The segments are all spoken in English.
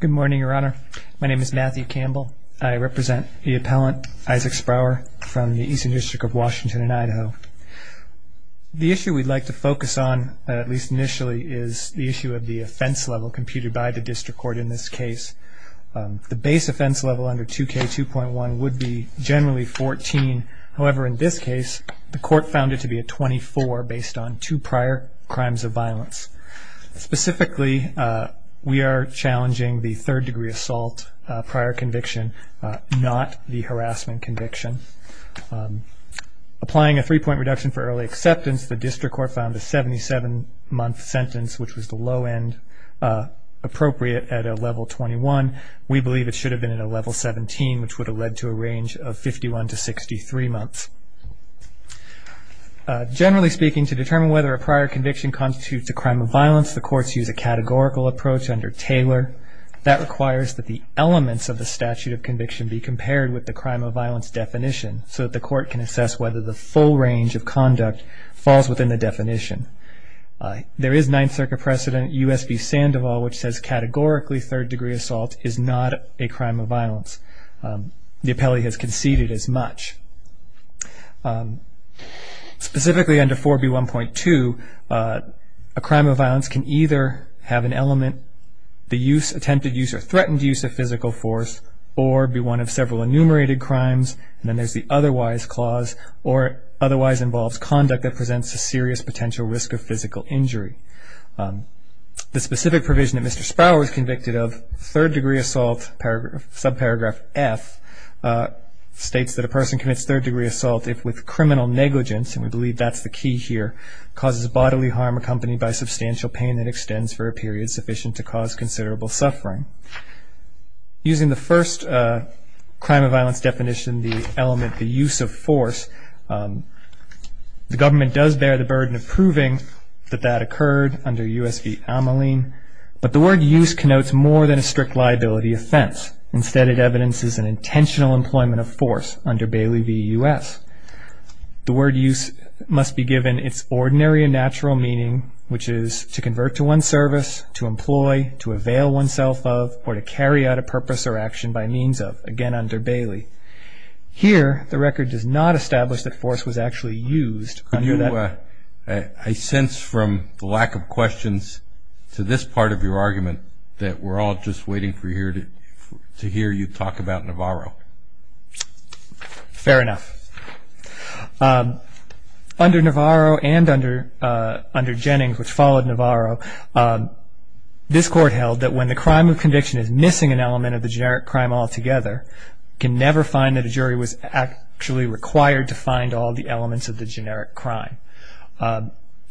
Good morning, Your Honor. My name is Matthew Campbell. I represent the appellant, Isaac Sprauer, from the Eastern District of Washington in Idaho. The issue we'd like to focus on, at least initially, is the issue of the offense level computed by the district court in this case. The base offense level under 2K2.1 would be generally 14. However, in this case, the court found it to be a 24 based on two prior crimes of violence. Specifically, we are challenging the third degree assault prior conviction, not the harassment conviction. Applying a three-point reduction for early acceptance, the district court found a 77-month sentence, which was the low end appropriate at a level 21. We believe it should have been at a level 17, which would have led to a range of 51 to 63 months. Generally speaking, to determine whether a prior conviction constitutes a crime of violence, the courts use a categorical approach under Taylor. That requires that the elements of the statute of conviction be compared with the crime of violence definition so that the court can assess whether the full range of conduct falls within the definition. There is Ninth Circuit precedent, U.S. v. Sandoval, which says categorically third degree assault is not a crime of violence. The appellee has conceded as much. Specifically under 4B1.2, a crime of violence can either have an element, the attempted use or threatened use of physical force, or be one of several enumerated crimes, and then there is the otherwise clause, or otherwise involves conduct that presents a serious potential risk of physical injury. The specific provision that Mr. Sprower was convicted of, third degree assault, subparagraph F, states that a person commits third degree assault if with criminal negligence, and we believe that's the key here, causes bodily harm accompanied by substantial pain that extends for a period sufficient to cause considerable suffering. Using the first crime of violence definition, the element, the use of force, the government does bear the burden of proving that that occurred under U.S. v. Ameline, but the word use connotes more than a strict liability offense. Instead, it evidences an intentional employment of force under Bailey v. U.S. The word use must be given its ordinary and natural meaning, which is to convert to one's service, to employ, to avail oneself of, or to carry out a purpose or action by means of, again under Bailey. Here, the record does not establish that force was actually used under that. I sense from the lack of questions to this part of your argument that we're all just waiting to hear you talk about Navarro. Fair enough. Under Navarro and under Jennings, which followed Navarro, this Court held that when the crime of conviction is missing an element of the generic crime altogether, it can never find that a jury was actually required to find all the elements of the generic crime.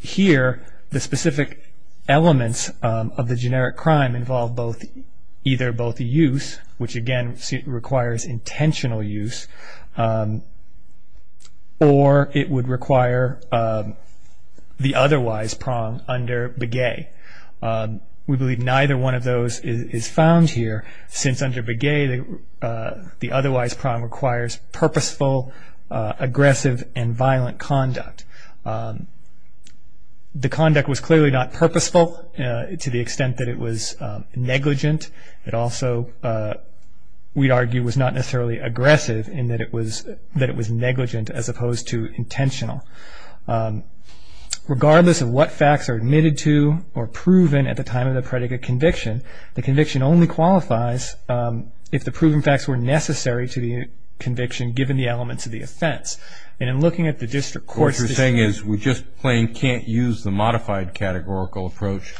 Here, the specific elements of the generic crime involve either both the use, which again requires intentional use, or it would require the otherwise prong under Begay. We believe neither one of those is found here, since under Begay the otherwise prong requires purposeful, aggressive, and violent conduct. The conduct was clearly not purposeful to the extent that it was negligent. It also, we'd argue, was not necessarily aggressive in that it was negligent as opposed to intentional. Regardless of what facts are admitted to or proven at the time of the predicate conviction, the conviction only qualifies if the proven facts were necessary to the conviction, given the elements of the offense. And in looking at the district courts... What you're saying is we just plain can't use the modified categorical approach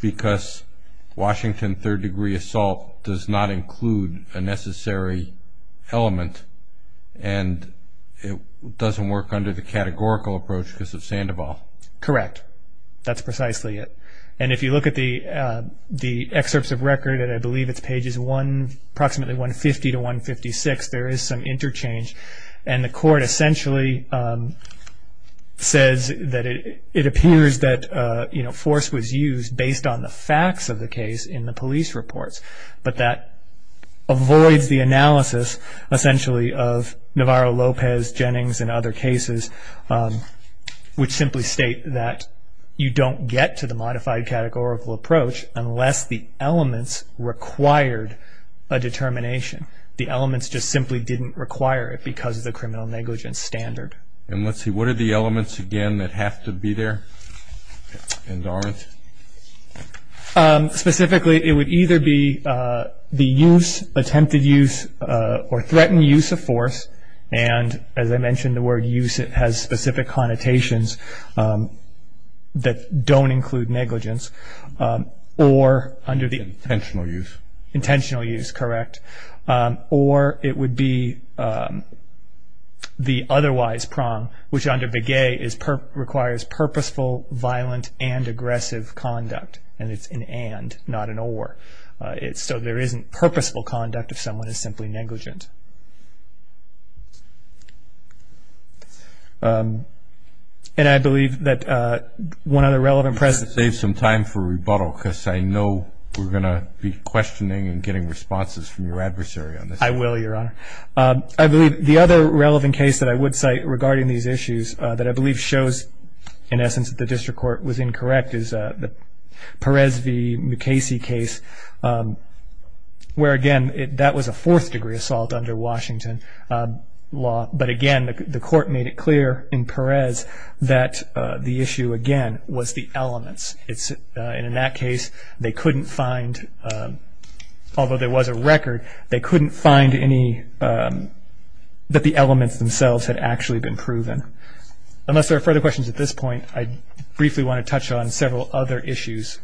because Washington third-degree assault does not include a necessary element and it doesn't work under the categorical approach because of Sandoval. Correct. That's precisely it. And if you look at the excerpts of record, and I believe it's pages approximately 150 to 156, there is some interchange. And the court essentially says that it appears that force was used based on the facts of the case in the police reports. But that avoids the analysis, essentially, of Navarro, Lopez, Jennings, and other cases, which simply state that you don't get to the modified categorical approach unless the elements required a determination. The elements just simply didn't require it because of the criminal negligence standard. And let's see, what are the elements, again, that have to be there and aren't? Specifically, it would either be the use, attempted use, or threatened use of force. And as I mentioned, the word use has specific connotations that don't include negligence. Intentional use. Intentional use, correct. Or it would be the otherwise prong, which under Begay requires purposeful, violent, and aggressive conduct. And it's an and, not an or. So there isn't purposeful conduct if someone is simply negligent. And I believe that one other relevant precedent. Save some time for rebuttal because I know we're going to be questioning and getting responses from your adversary on this. I will, Your Honor. I believe the other relevant case that I would cite regarding these issues that I believe shows, in essence, that the district court was incorrect, is the Perez v. Mukasey case, where, again, that was a fourth-degree assault under Washington law. But, again, the court made it clear in Perez that the issue, again, was the elements. And in that case, they couldn't find, although there was a record, they couldn't find any that the elements themselves had actually been proven. Unless there are further questions at this point, I briefly want to touch on several other issues,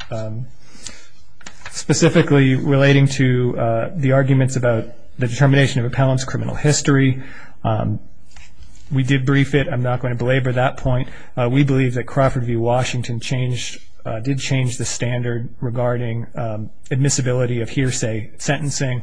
specifically relating to the arguments about the determination of appellant's criminal history. We did brief it. I'm not going to belabor that point. We believe that Crawford v. Washington did change the standard regarding admissibility of hearsay sentencing.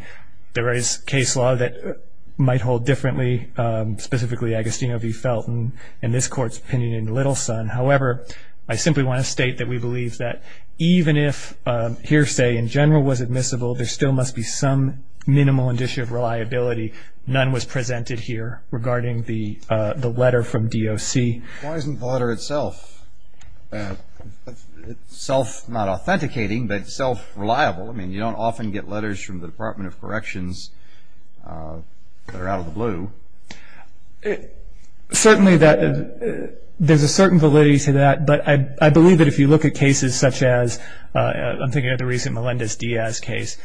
There is case law that might hold differently, specifically Agostino v. Felton, and this Court's opinion in Littleson. However, I simply want to state that we believe that even if hearsay in general was admissible, there still must be some minimal indicia of reliability. None was presented here regarding the letter from DOC. Why isn't the letter itself self-not authenticating, but self-reliable? I mean, you don't often get letters from the Department of Corrections that are out of the blue. Certainly, there's a certain validity to that, but I believe that if you look at cases such as, I'm thinking of the recent Melendez-Diaz case,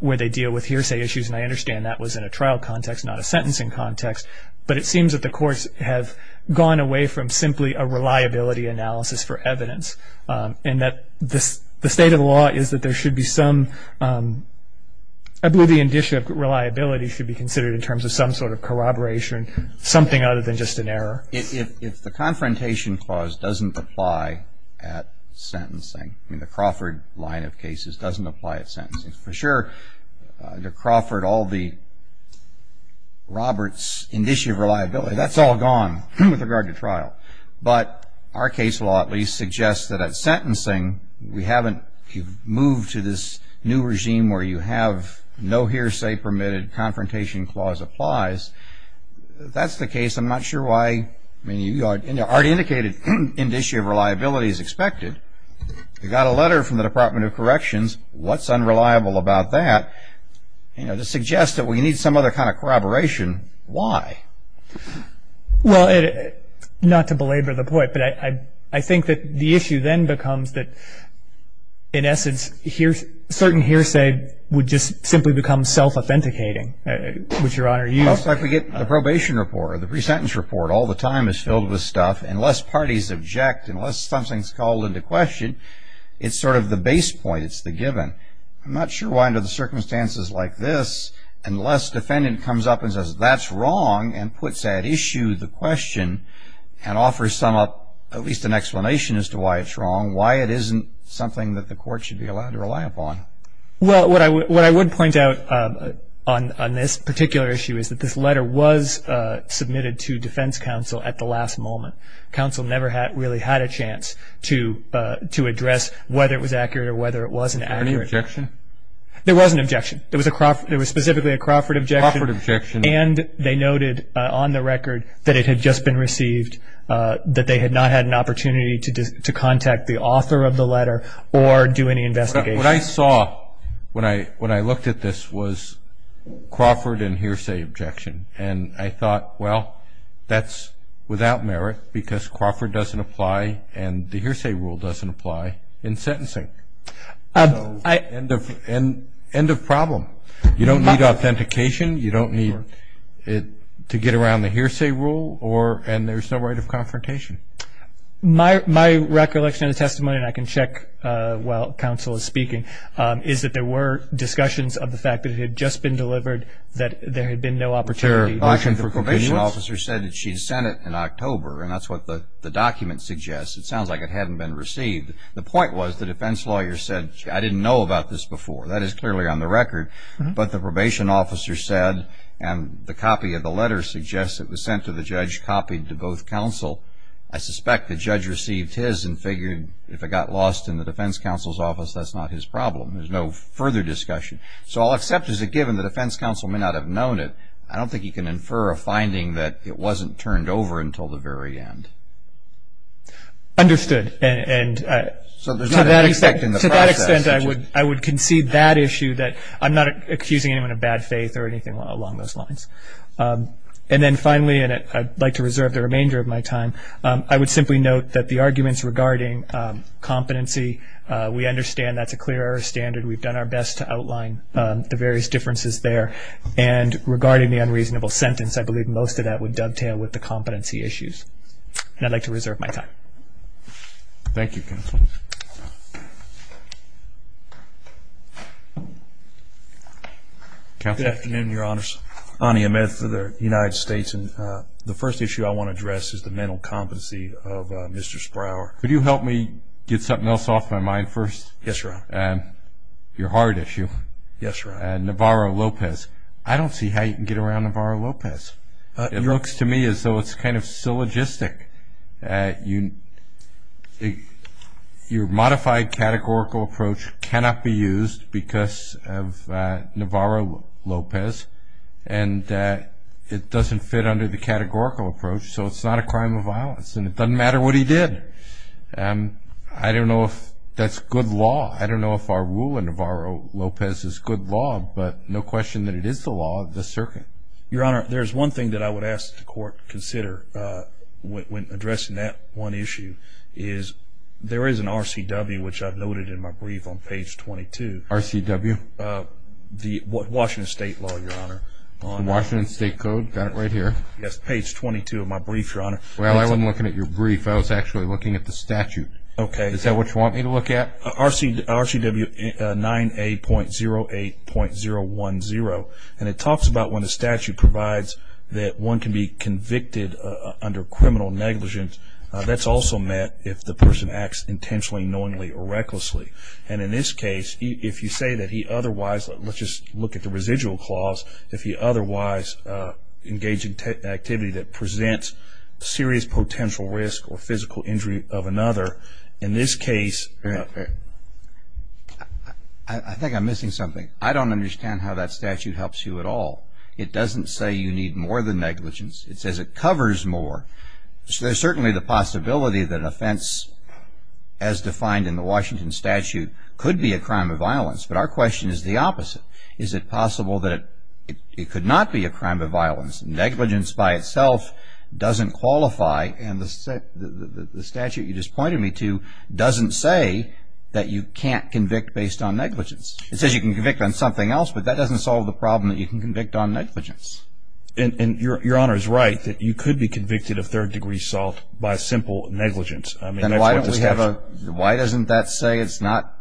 where they deal with hearsay issues, and I understand that was in a trial context, not a sentencing context, but it seems that the courts have gone away from simply a reliability analysis for evidence, and that the state of the law is that there should be some, I believe the indicia of reliability should be considered in terms of some sort of corroboration, something other than just an error. If the Confrontation Clause doesn't apply at sentencing, I mean, the Crawford line of cases doesn't apply at sentencing. For sure, under Crawford, all the Roberts indicia of reliability, that's all gone with regard to trial. But our case law at least suggests that at sentencing, we haven't moved to this new regime where you have no hearsay permitted, Confrontation Clause applies. That's the case. I'm not sure why. I mean, you already indicated an indicia of reliability is expected. You got a letter from the Department of Corrections. What's unreliable about that? You know, to suggest that we need some other kind of corroboration, why? Well, not to belabor the point, but I think that the issue then becomes that, in essence, certain hearsay would just simply become self-authenticating, which, Your Honor, you- Well, it's like we get the probation report or the pre-sentence report. All the time it's filled with stuff. Unless parties object, unless something's called into question, it's sort of the base point. It's the given. I'm not sure why under the circumstances like this, unless defendant comes up and says that's wrong and puts at issue the question and offers some up at least an explanation as to why it's wrong, why it isn't something that the court should be allowed to rely upon. Well, what I would point out on this particular issue is that this letter was submitted to defense counsel at the last moment. Counsel never really had a chance to address whether it was accurate or whether it wasn't accurate. Was there any objection? There was an objection. There was specifically a Crawford objection. Crawford objection. And they noted on the record that it had just been received, that they had not had an opportunity to contact the author of the letter or do any investigation. What I saw when I looked at this was Crawford and hearsay objection. And I thought, well, that's without merit because Crawford doesn't apply and the hearsay rule doesn't apply in sentencing. So end of problem. You don't need authentication, you don't need to get around the hearsay rule, and there's no right of confrontation. My recollection of the testimony, and I can check while counsel is speaking, is that there were discussions of the fact that it had just been delivered, that there had been no opportunity. The probation officer said that she sent it in October, and that's what the document suggests. It sounds like it hadn't been received. The point was the defense lawyer said, I didn't know about this before. That is clearly on the record. But the probation officer said, and the copy of the letter suggests it was sent to the judge, copied to both counsel. I suspect the judge received his and figured if it got lost in the defense counsel's office, that's not his problem. There's no further discussion. So I'll accept as a given the defense counsel may not have known it. I don't think you can infer a finding that it wasn't turned over until the very end. Understood. And to that extent I would concede that issue, that I'm not accusing anyone of bad faith or anything along those lines. And then finally, and I'd like to reserve the remainder of my time, I would simply note that the arguments regarding competency, we understand that's a clear error standard. We've done our best to outline the various differences there. And regarding the unreasonable sentence, I believe most of that would dovetail with the competency issues. And I'd like to reserve my time. Thank you, counsel. Counsel. Good afternoon, Your Honors. Ani Ahmed for the United States. And the first issue I want to address is the mental competency of Mr. Sprower. Could you help me get something else off my mind first? Yes, Your Honor. Your heart issue. Yes, Your Honor. Navarro Lopez. I don't see how you can get around Navarro Lopez. It looks to me as though it's kind of syllogistic. Your modified categorical approach cannot be used because of Navarro Lopez, and it doesn't fit under the categorical approach. So it's not a crime of violence, and it doesn't matter what he did. I don't know if that's good law. I don't know if our rule in Navarro Lopez is good law, but no question that it is the law of the circuit. Your Honor, there's one thing that I would ask the court to consider when addressing that one issue is there is an RCW, which I've noted in my brief on page 22. RCW? The Washington State law, Your Honor. The Washington State code? Got it right here. Yes, page 22 of my brief, Your Honor. Well, I wasn't looking at your brief. I was actually looking at the statute. Okay. Is that what you want me to look at? RCW 9A.08.010, and it talks about when the statute provides that one can be convicted under criminal negligence, that's also meant if the person acts intentionally, knowingly, or recklessly. And in this case, if you say that he otherwise, let's just look at the residual clause, if he otherwise engaged in activity that presents serious potential risk or physical injury of another, in this case, I think I'm missing something. I don't understand how that statute helps you at all. It doesn't say you need more than negligence. It says it covers more. There's certainly the possibility that an offense as defined in the Washington statute could be a crime of violence, but our question is the opposite. Is it possible that it could not be a crime of violence? Negligence by itself doesn't qualify, and the statute you just pointed me to doesn't say that you can't convict based on negligence. It says you can convict on something else, but that doesn't solve the problem that you can convict on negligence. Your Honor is right that you could be convicted of third-degree assault by simple negligence. Then why doesn't that say it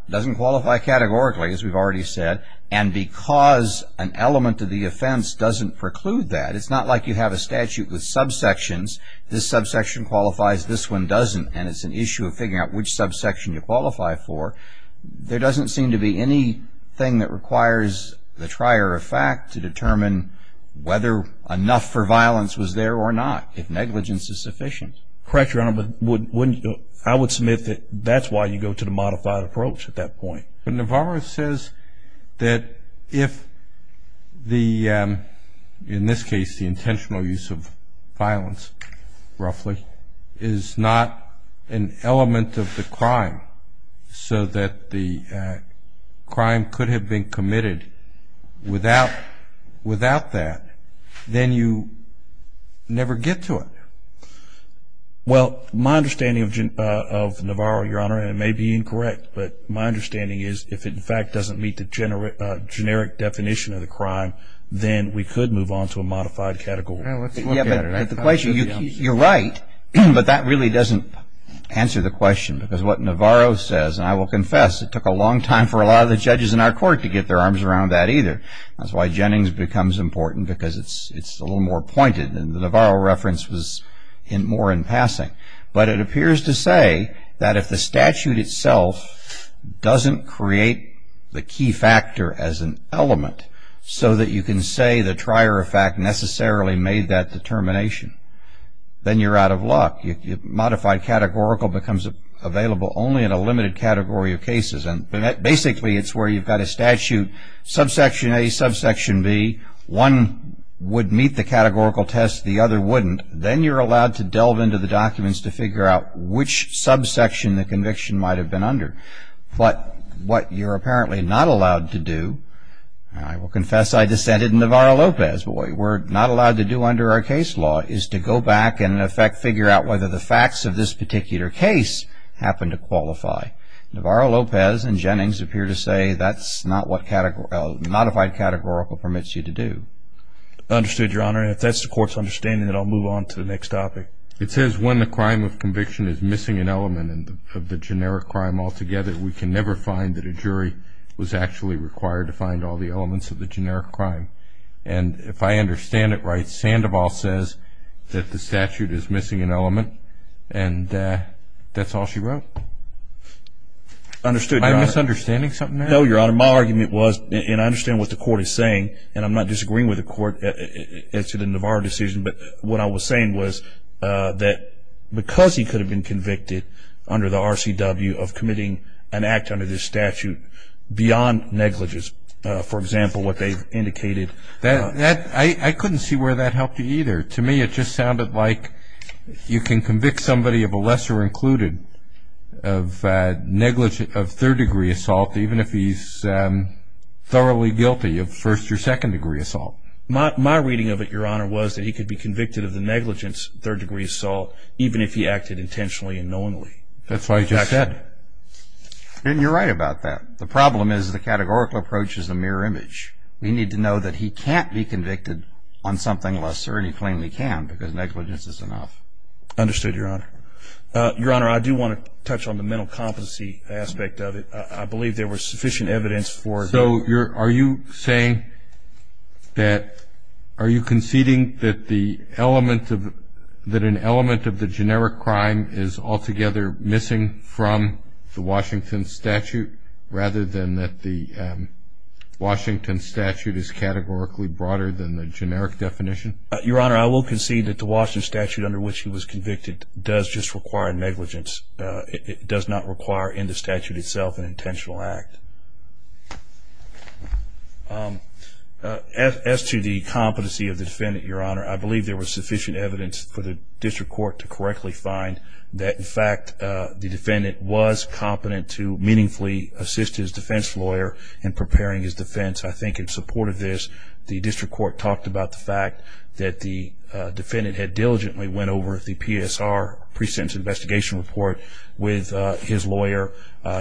doesn't qualify categorically, as we've already said, and because an element of the offense doesn't preclude that? It's not like you have a statute with subsections. This subsection qualifies, this one doesn't, and it's an issue of figuring out which subsection you qualify for. There doesn't seem to be anything that requires the trier of fact to determine whether enough for violence was there or not, if negligence is sufficient. Correct, Your Honor, but I would submit that that's why you go to the modified approach at that point. But Navarro says that if, in this case, the intentional use of violence, roughly, is not an element of the crime so that the crime could have been committed without that, then you never get to it. Well, my understanding of Navarro, Your Honor, and it may be incorrect, but my understanding is if it, in fact, doesn't meet the generic definition of the crime, then we could move on to a modified category. Let's look at it. You're right, but that really doesn't answer the question because what Navarro says, and I will confess it took a long time for a lot of the judges in our court to get their arms around that either. That's why Jennings becomes important because it's a little more pointed and the Navarro reference was more in passing. But it appears to say that if the statute itself doesn't create the key factor as an element so that you can say the trier of fact necessarily made that determination, then you're out of luck. Modified categorical becomes available only in a limited category of cases, and basically it's where you've got a statute, subsection A, subsection B. One would meet the categorical test. The other wouldn't. Then you're allowed to delve into the documents to figure out which subsection the conviction might have been under. But what you're apparently not allowed to do, and I will confess I dissented in Navarro-Lopez, what we're not allowed to do under our case law is to go back and, in effect, figure out whether the facts of this particular case happen to qualify. Navarro-Lopez and Jennings appear to say that's not what modified categorical permits you to do. Understood, Your Honor. If that's the court's understanding, then I'll move on to the next topic. It says when the crime of conviction is missing an element of the generic crime altogether, we can never find that a jury was actually required to find all the elements of the generic crime. And if I understand it right, Sandoval says that the statute is missing an element, and that's all she wrote. Understood, Your Honor. Am I misunderstanding something there? No, Your Honor. Your Honor, my argument was, and I understand what the court is saying, and I'm not disagreeing with the court incident of our decision, but what I was saying was that because he could have been convicted under the RCW of committing an act under this statute beyond negligence, for example, what they've indicated. I couldn't see where that helped you either. To me, it just sounded like you can convict somebody of a lesser included of negligence, of third degree assault, even if he's thoroughly guilty of first or second degree assault. My reading of it, Your Honor, was that he could be convicted of the negligence, third degree assault, even if he acted intentionally and knowingly. That's what I just said. And you're right about that. The problem is the categorical approach is the mirror image. We need to know that he can't be convicted on something lesser, and he plainly can because negligence is enough. Understood, Your Honor. Your Honor, I do want to touch on the mental competency aspect of it. I believe there was sufficient evidence for it. So are you saying that are you conceding that the element of the generic crime is altogether missing from the Washington statute rather than that the Washington statute is categorically broader than the generic definition? Your Honor, I will concede that the Washington statute under which he was convicted does just require negligence. It does not require in the statute itself an intentional act. As to the competency of the defendant, Your Honor, I believe there was sufficient evidence for the district court to correctly find that, in fact, the defendant was competent to meaningfully assist his defense lawyer in preparing his defense. I think in support of this, the district court talked about the fact that the defendant had diligently went over the PSR, pre-sentence investigation report, with his lawyer.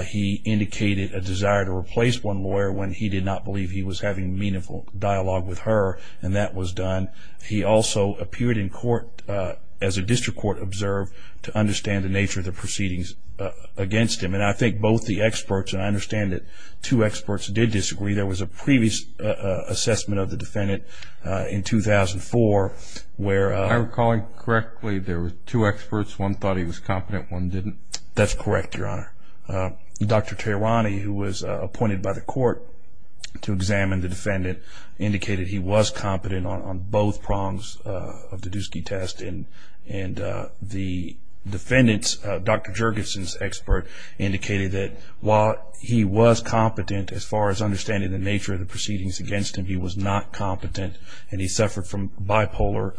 He indicated a desire to replace one lawyer when he did not believe he was having meaningful dialogue with her, and that was done. He also appeared in court, as a district court observed, to understand the nature of the proceedings against him. And I think both the experts, and I understand that two experts did disagree, there was a previous assessment of the defendant in 2004 where... If I'm recalling correctly, there were two experts. One thought he was competent, one didn't. That's correct, Your Honor. Dr. Tehrani, who was appointed by the court to examine the defendant, indicated he was competent on both prongs of the Doosky test, and the defendant's, Dr. Jurgensen's expert, indicated that while he was competent as far as understanding the nature of the proceedings against him, he was not competent, and he suffered from bipolar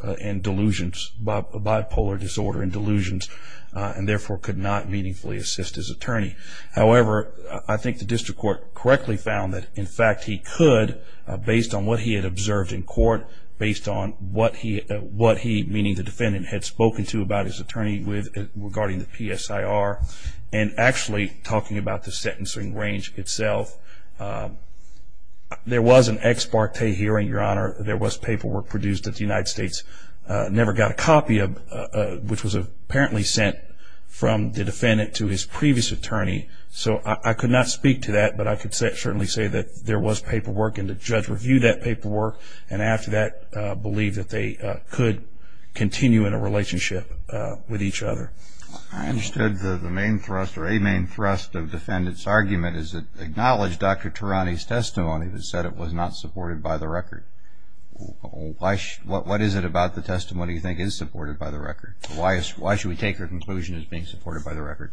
disorder and delusions, and therefore could not meaningfully assist his attorney. However, I think the district court correctly found that, in fact, he could, based on what he had observed in court, based on what he, meaning the defendant, had spoken to about his attorney regarding the PSIR, and actually talking about the sentencing range itself, there was an ex parte hearing, Your Honor. There was paperwork produced that the United States never got a copy of, which was apparently sent from the defendant to his previous attorney. So I could not speak to that, but I could certainly say that there was paperwork, and the judge reviewed that paperwork, and after that believed that they could continue in a relationship with each other. I understood the main thrust, or a main thrust, of the defendant's argument is to acknowledge Dr. Turani's testimony that said it was not supported by the record. What is it about the testimony you think is supported by the record? Why should we take her conclusion as being supported by the record?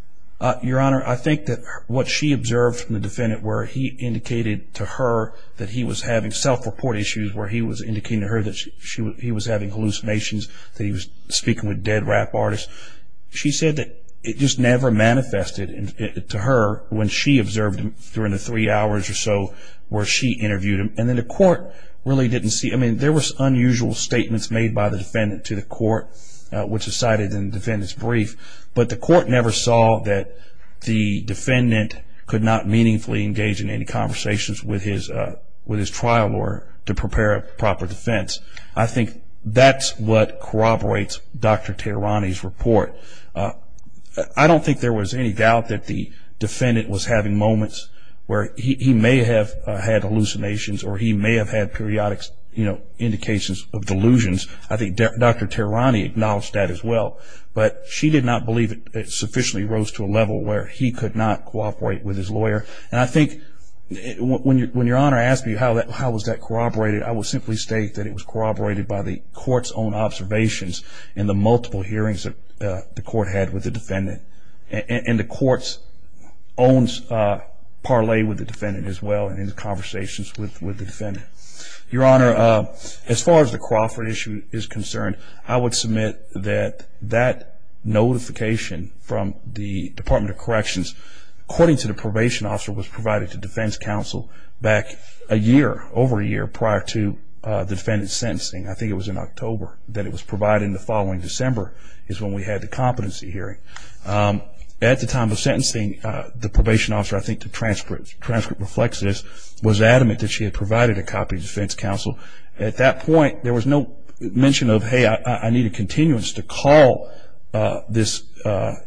Your Honor, I think that what she observed from the defendant, where he indicated to her that he was having self-report issues, where he was indicating to her that he was having hallucinations, that he was speaking with dead rap artists, she said that it just never manifested to her when she observed him during the three hours or so where she interviewed him, and then the court really didn't see. I mean, there was unusual statements made by the defendant to the court, which is cited in the defendant's brief, but the court never saw that the defendant could not meaningfully engage in any conversations with his trial lawyer to prepare a proper defense. I think that's what corroborates Dr. Turani's report. I don't think there was any doubt that the defendant was having moments where he may have had hallucinations or he may have had periodic indications of delusions. I think Dr. Turani acknowledged that as well, but she did not believe it sufficiently rose to a level where he could not cooperate with his lawyer. And I think when Your Honor asked me how was that corroborated, I will simply state that it was corroborated by the court's own observations and the multiple hearings that the court had with the defendant, and the court's own parlay with the defendant as well and in the conversations with the defendant. Your Honor, as far as the Crawford issue is concerned, I would submit that that notification from the Department of Corrections, according to the probation officer, was provided to defense counsel back a year, over a year, prior to the defendant's sentencing. I think it was in October that it was provided, and the following December is when we had the competency hearing. At the time of sentencing, the probation officer, I think the transcript reflects this, was adamant that she had provided a copy to defense counsel. At that point, there was no mention of, hey, I need a continuance to call this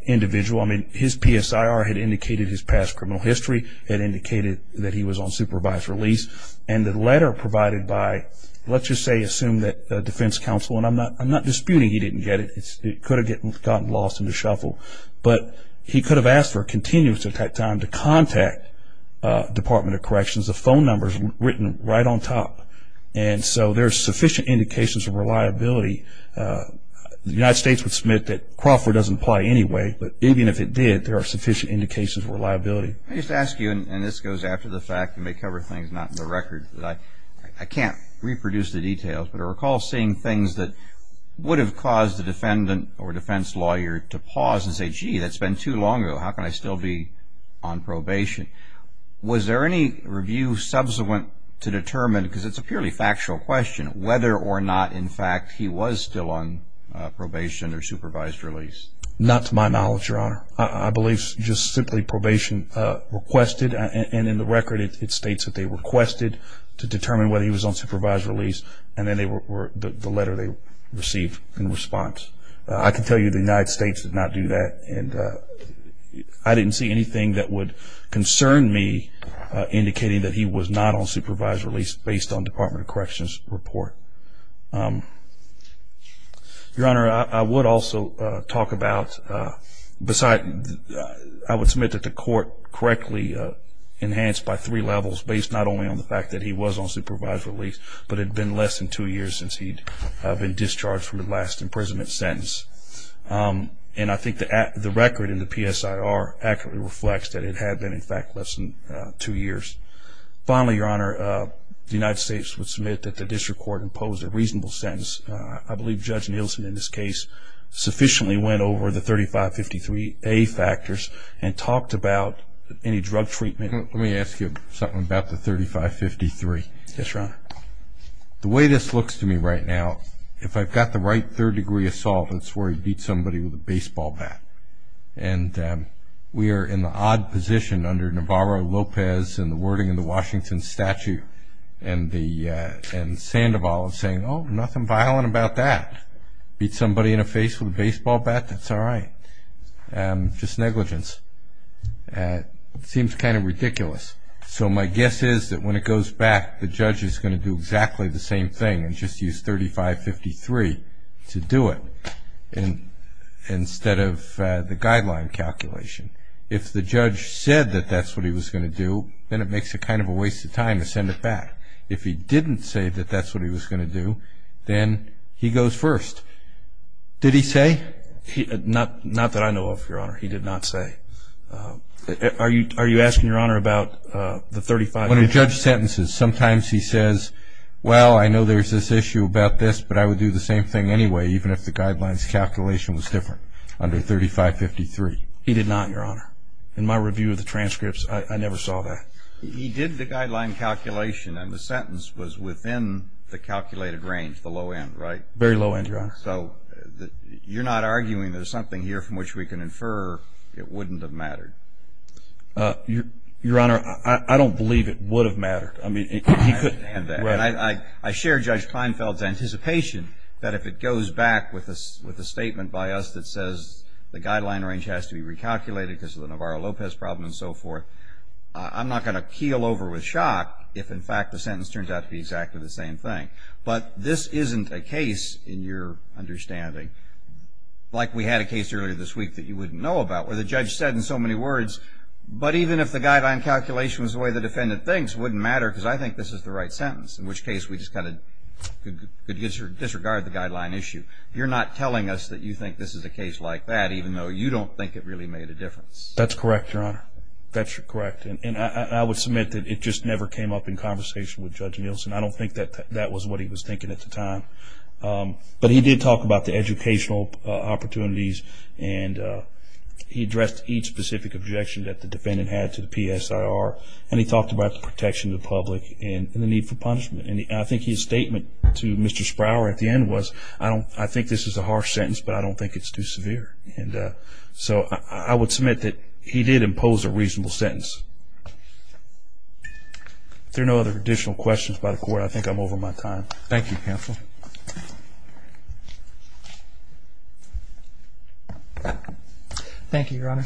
individual. I mean, his PSIR had indicated his past criminal history. It indicated that he was on supervised release. And the letter provided by, let's just say, assume that defense counsel, and I'm not disputing he didn't get it. It could have gotten lost in the shuffle. But he could have asked for a continuance at that time to contact Department of Corrections. The phone number is written right on top. And so there's sufficient indications of reliability. The United States would submit that Crawford doesn't apply anyway, but even if it did, there are sufficient indications of reliability. Let me just ask you, and this goes after the fact. You may cover things not in the record. I can't reproduce the details, but I recall seeing things that would have caused the defendant or defense lawyer to pause and say, gee, that's been too long ago. How can I still be on probation? Was there any review subsequent to determine, because it's a purely factual question, whether or not, in fact, he was still on probation or supervised release? Not to my knowledge, Your Honor. I believe it's just simply probation requested, and in the record it states that they requested to determine whether he was on supervised release, and then the letter they received in response. I can tell you the United States did not do that, and I didn't see anything that would concern me indicating that he was not on supervised release based on Department of Corrections' report. Your Honor, I would also talk about, I would submit that the court correctly enhanced by three levels based not only on the fact that he was on supervised release, but it had been less than two years since he'd been discharged from the last imprisonment sentence. And I think the record in the PSIR accurately reflects that it had been, in fact, less than two years. Finally, Your Honor, the United States would submit that the district court imposed a reasonable sentence. I believe Judge Nielsen in this case sufficiently went over the 3553A factors and talked about any drug treatment. Let me ask you something about the 3553. Yes, Your Honor. The way this looks to me right now, if I've got the right third degree assault, that's where he beat somebody with a baseball bat. And we are in the odd position under Navarro-Lopez and the wording in the Washington statute and Sandoval of saying, oh, nothing violent about that. Beat somebody in the face with a baseball bat, that's all right. Just negligence. It seems kind of ridiculous. So my guess is that when it goes back, the judge is going to do exactly the same thing and just use 3553 to do it. Instead of the guideline calculation. If the judge said that that's what he was going to do, then it makes it kind of a waste of time to send it back. If he didn't say that that's what he was going to do, then he goes first. Did he say? Not that I know of, Your Honor. He did not say. Are you asking, Your Honor, about the 3553? When a judge sentences, sometimes he says, well, I know there's this issue about this, but I would do the same thing anyway even if the guideline's calculation was different under 3553. He did not, Your Honor. In my review of the transcripts, I never saw that. He did the guideline calculation and the sentence was within the calculated range, the low end, right? Very low end, Your Honor. So you're not arguing there's something here from which we can infer it wouldn't have mattered? Your Honor, I don't believe it would have mattered. I share Judge Feinfeld's anticipation that if it goes back with a statement by us that says the guideline range has to be recalculated because of the Navarro-Lopez problem and so forth, I'm not going to keel over with shock if, in fact, the sentence turns out to be exactly the same thing. But this isn't a case, in your understanding, like we had a case earlier this week that you wouldn't know about where the judge said in so many words, but even if the guideline calculation was the way the defendant thinks, it wouldn't matter because I think this is the right sentence, in which case we just kind of could disregard the guideline issue. You're not telling us that you think this is a case like that even though you don't think it really made a difference. That's correct, Your Honor. That's correct. And I would submit that it just never came up in conversation with Judge Nielsen. I don't think that that was what he was thinking at the time. But he did talk about the educational opportunities and he addressed each specific objection that the defendant had to the PSIR and he talked about the protection of the public and the need for punishment. And I think his statement to Mr. Sprower at the end was, I think this is a harsh sentence but I don't think it's too severe. And so I would submit that he did impose a reasonable sentence. If there are no other additional questions by the Court, I think I'm over my time. Thank you, counsel. Thank you, Your Honor.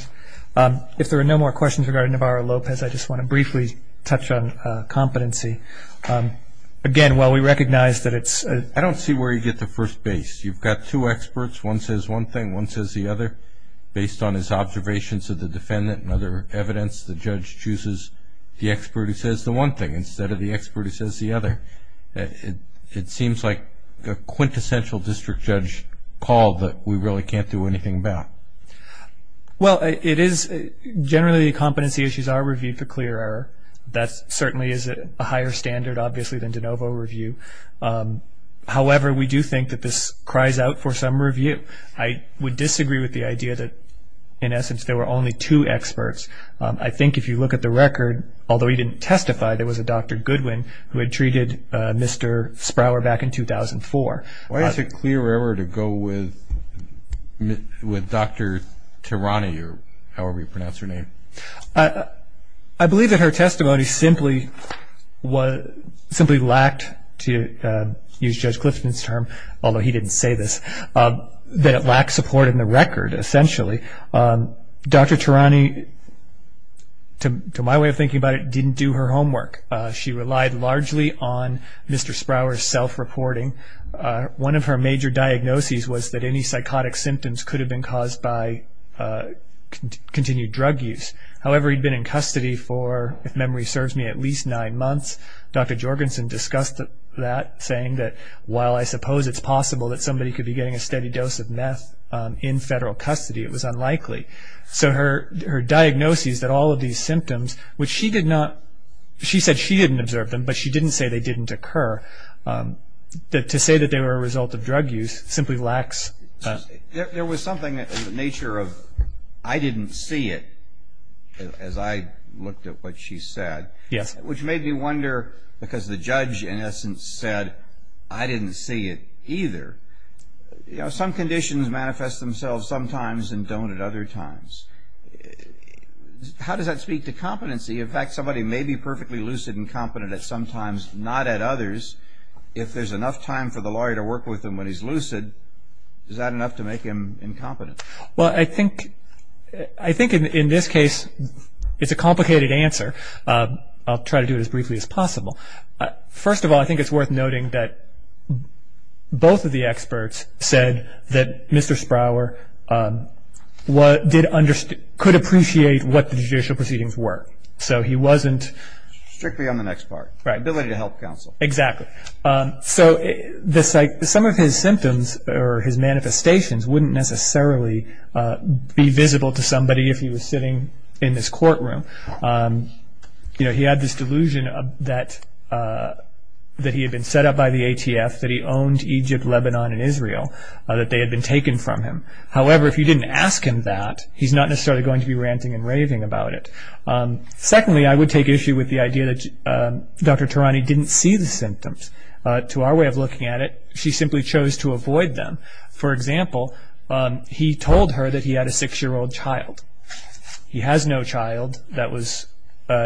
If there are no more questions regarding Navarro-Lopez, I just want to briefly touch on competency. Again, while we recognize that it's a- I don't see where you get the first base. You've got two experts, one says one thing, one says the other. Based on his observations of the defendant and other evidence, the judge chooses the expert who says the one thing instead of the expert who says the other. It seems like a quintessential district judge call that we really can't do anything about. Well, it is generally competency issues are reviewed for clear error. That certainly is a higher standard, obviously, than de novo review. However, we do think that this cries out for some review. I would disagree with the idea that, in essence, there were only two experts. I think if you look at the record, although he didn't testify, there was a Dr. Goodwin who had treated Mr. Sprower back in 2004. Why is it clear error to go with Dr. Tirani, or however you pronounce her name? I believe that her testimony simply lacked, to use Judge Clifton's term, although he didn't say this, that it lacked support in the record, essentially. Dr. Tirani, to my way of thinking about it, didn't do her homework. She relied largely on Mr. Sprower's self-reporting. One of her major diagnoses was that any psychotic symptoms could have been caused by continued drug use. However, he'd been in custody for, if memory serves me, at least nine months. Dr. Jorgensen discussed that, saying that, while I suppose it's possible that somebody could be getting a steady dose of meth in federal custody, it was unlikely. So her diagnosis that all of these symptoms, which she did not, she said she didn't observe them, but she didn't say they didn't occur, to say that they were a result of drug use simply lacks... There was something in the nature of, I didn't see it, as I looked at what she said. Yes. Which made me wonder, because the judge, in essence, said, I didn't see it either. Some conditions manifest themselves sometimes and don't at other times. How does that speak to competency? In fact, somebody may be perfectly lucid and competent at some times, not at others. If there's enough time for the lawyer to work with them when he's lucid, is that enough to make him incompetent? Well, I think in this case it's a complicated answer. I'll try to do it as briefly as possible. First of all, I think it's worth noting that both of the experts said that Mr. Sprower could appreciate what the judicial proceedings were. So he wasn't... Strictly on the next part. Right. Ability to help counsel. Exactly. So some of his symptoms or his manifestations wouldn't necessarily be visible to somebody if he was sitting in this courtroom. He had this delusion that he had been set up by the ATF, that he owned Egypt, Lebanon, and Israel, that they had been taken from him. However, if you didn't ask him that, he's not necessarily going to be ranting and raving about it. Secondly, I would take issue with the idea that Dr. Tarani didn't see the symptoms. To our way of looking at it, she simply chose to avoid them. For example, he told her that he had a six-year-old child. He has no child. That was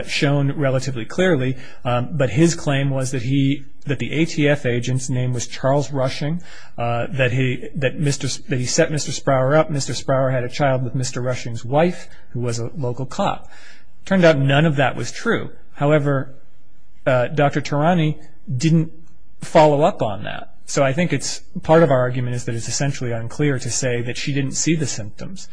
shown relatively clearly. But his claim was that the ATF agent's name was Charles Rushing, that he set Mr. Sprower up. Mr. Sprower had a child with Mr. Rushing's wife, who was a local cop. It turned out none of that was true. However, Dr. Tarani didn't follow up on that. So I think part of our argument is that it's essentially unclear to say that she didn't see the symptoms.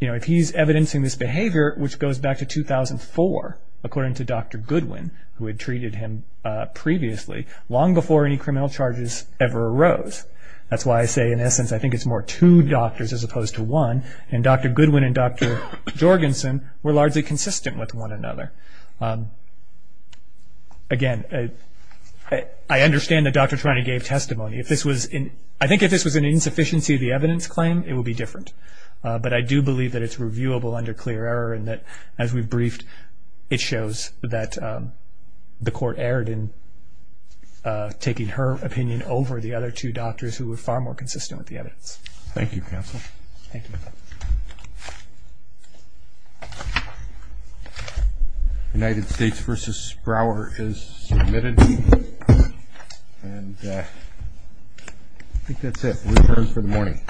If he's evidencing this behavior, which goes back to 2004, according to Dr. Goodwin, who had treated him previously, long before any criminal charges ever arose. That's why I say, in essence, I think it's more two doctors as opposed to one. Dr. Goodwin and Dr. Jorgensen were largely consistent with one another. Again, I understand that Dr. Tarani gave testimony. I think if this was an insufficiency of the evidence claim, it would be different. But I do believe that it's reviewable under clear error and that, as we've briefed, it shows that the court erred in taking her opinion over the other two doctors, who were far more consistent with the evidence. Thank you, counsel. Thank you. United States v. Sprower is submitted. And I think that's it. We're adjourned for the morning.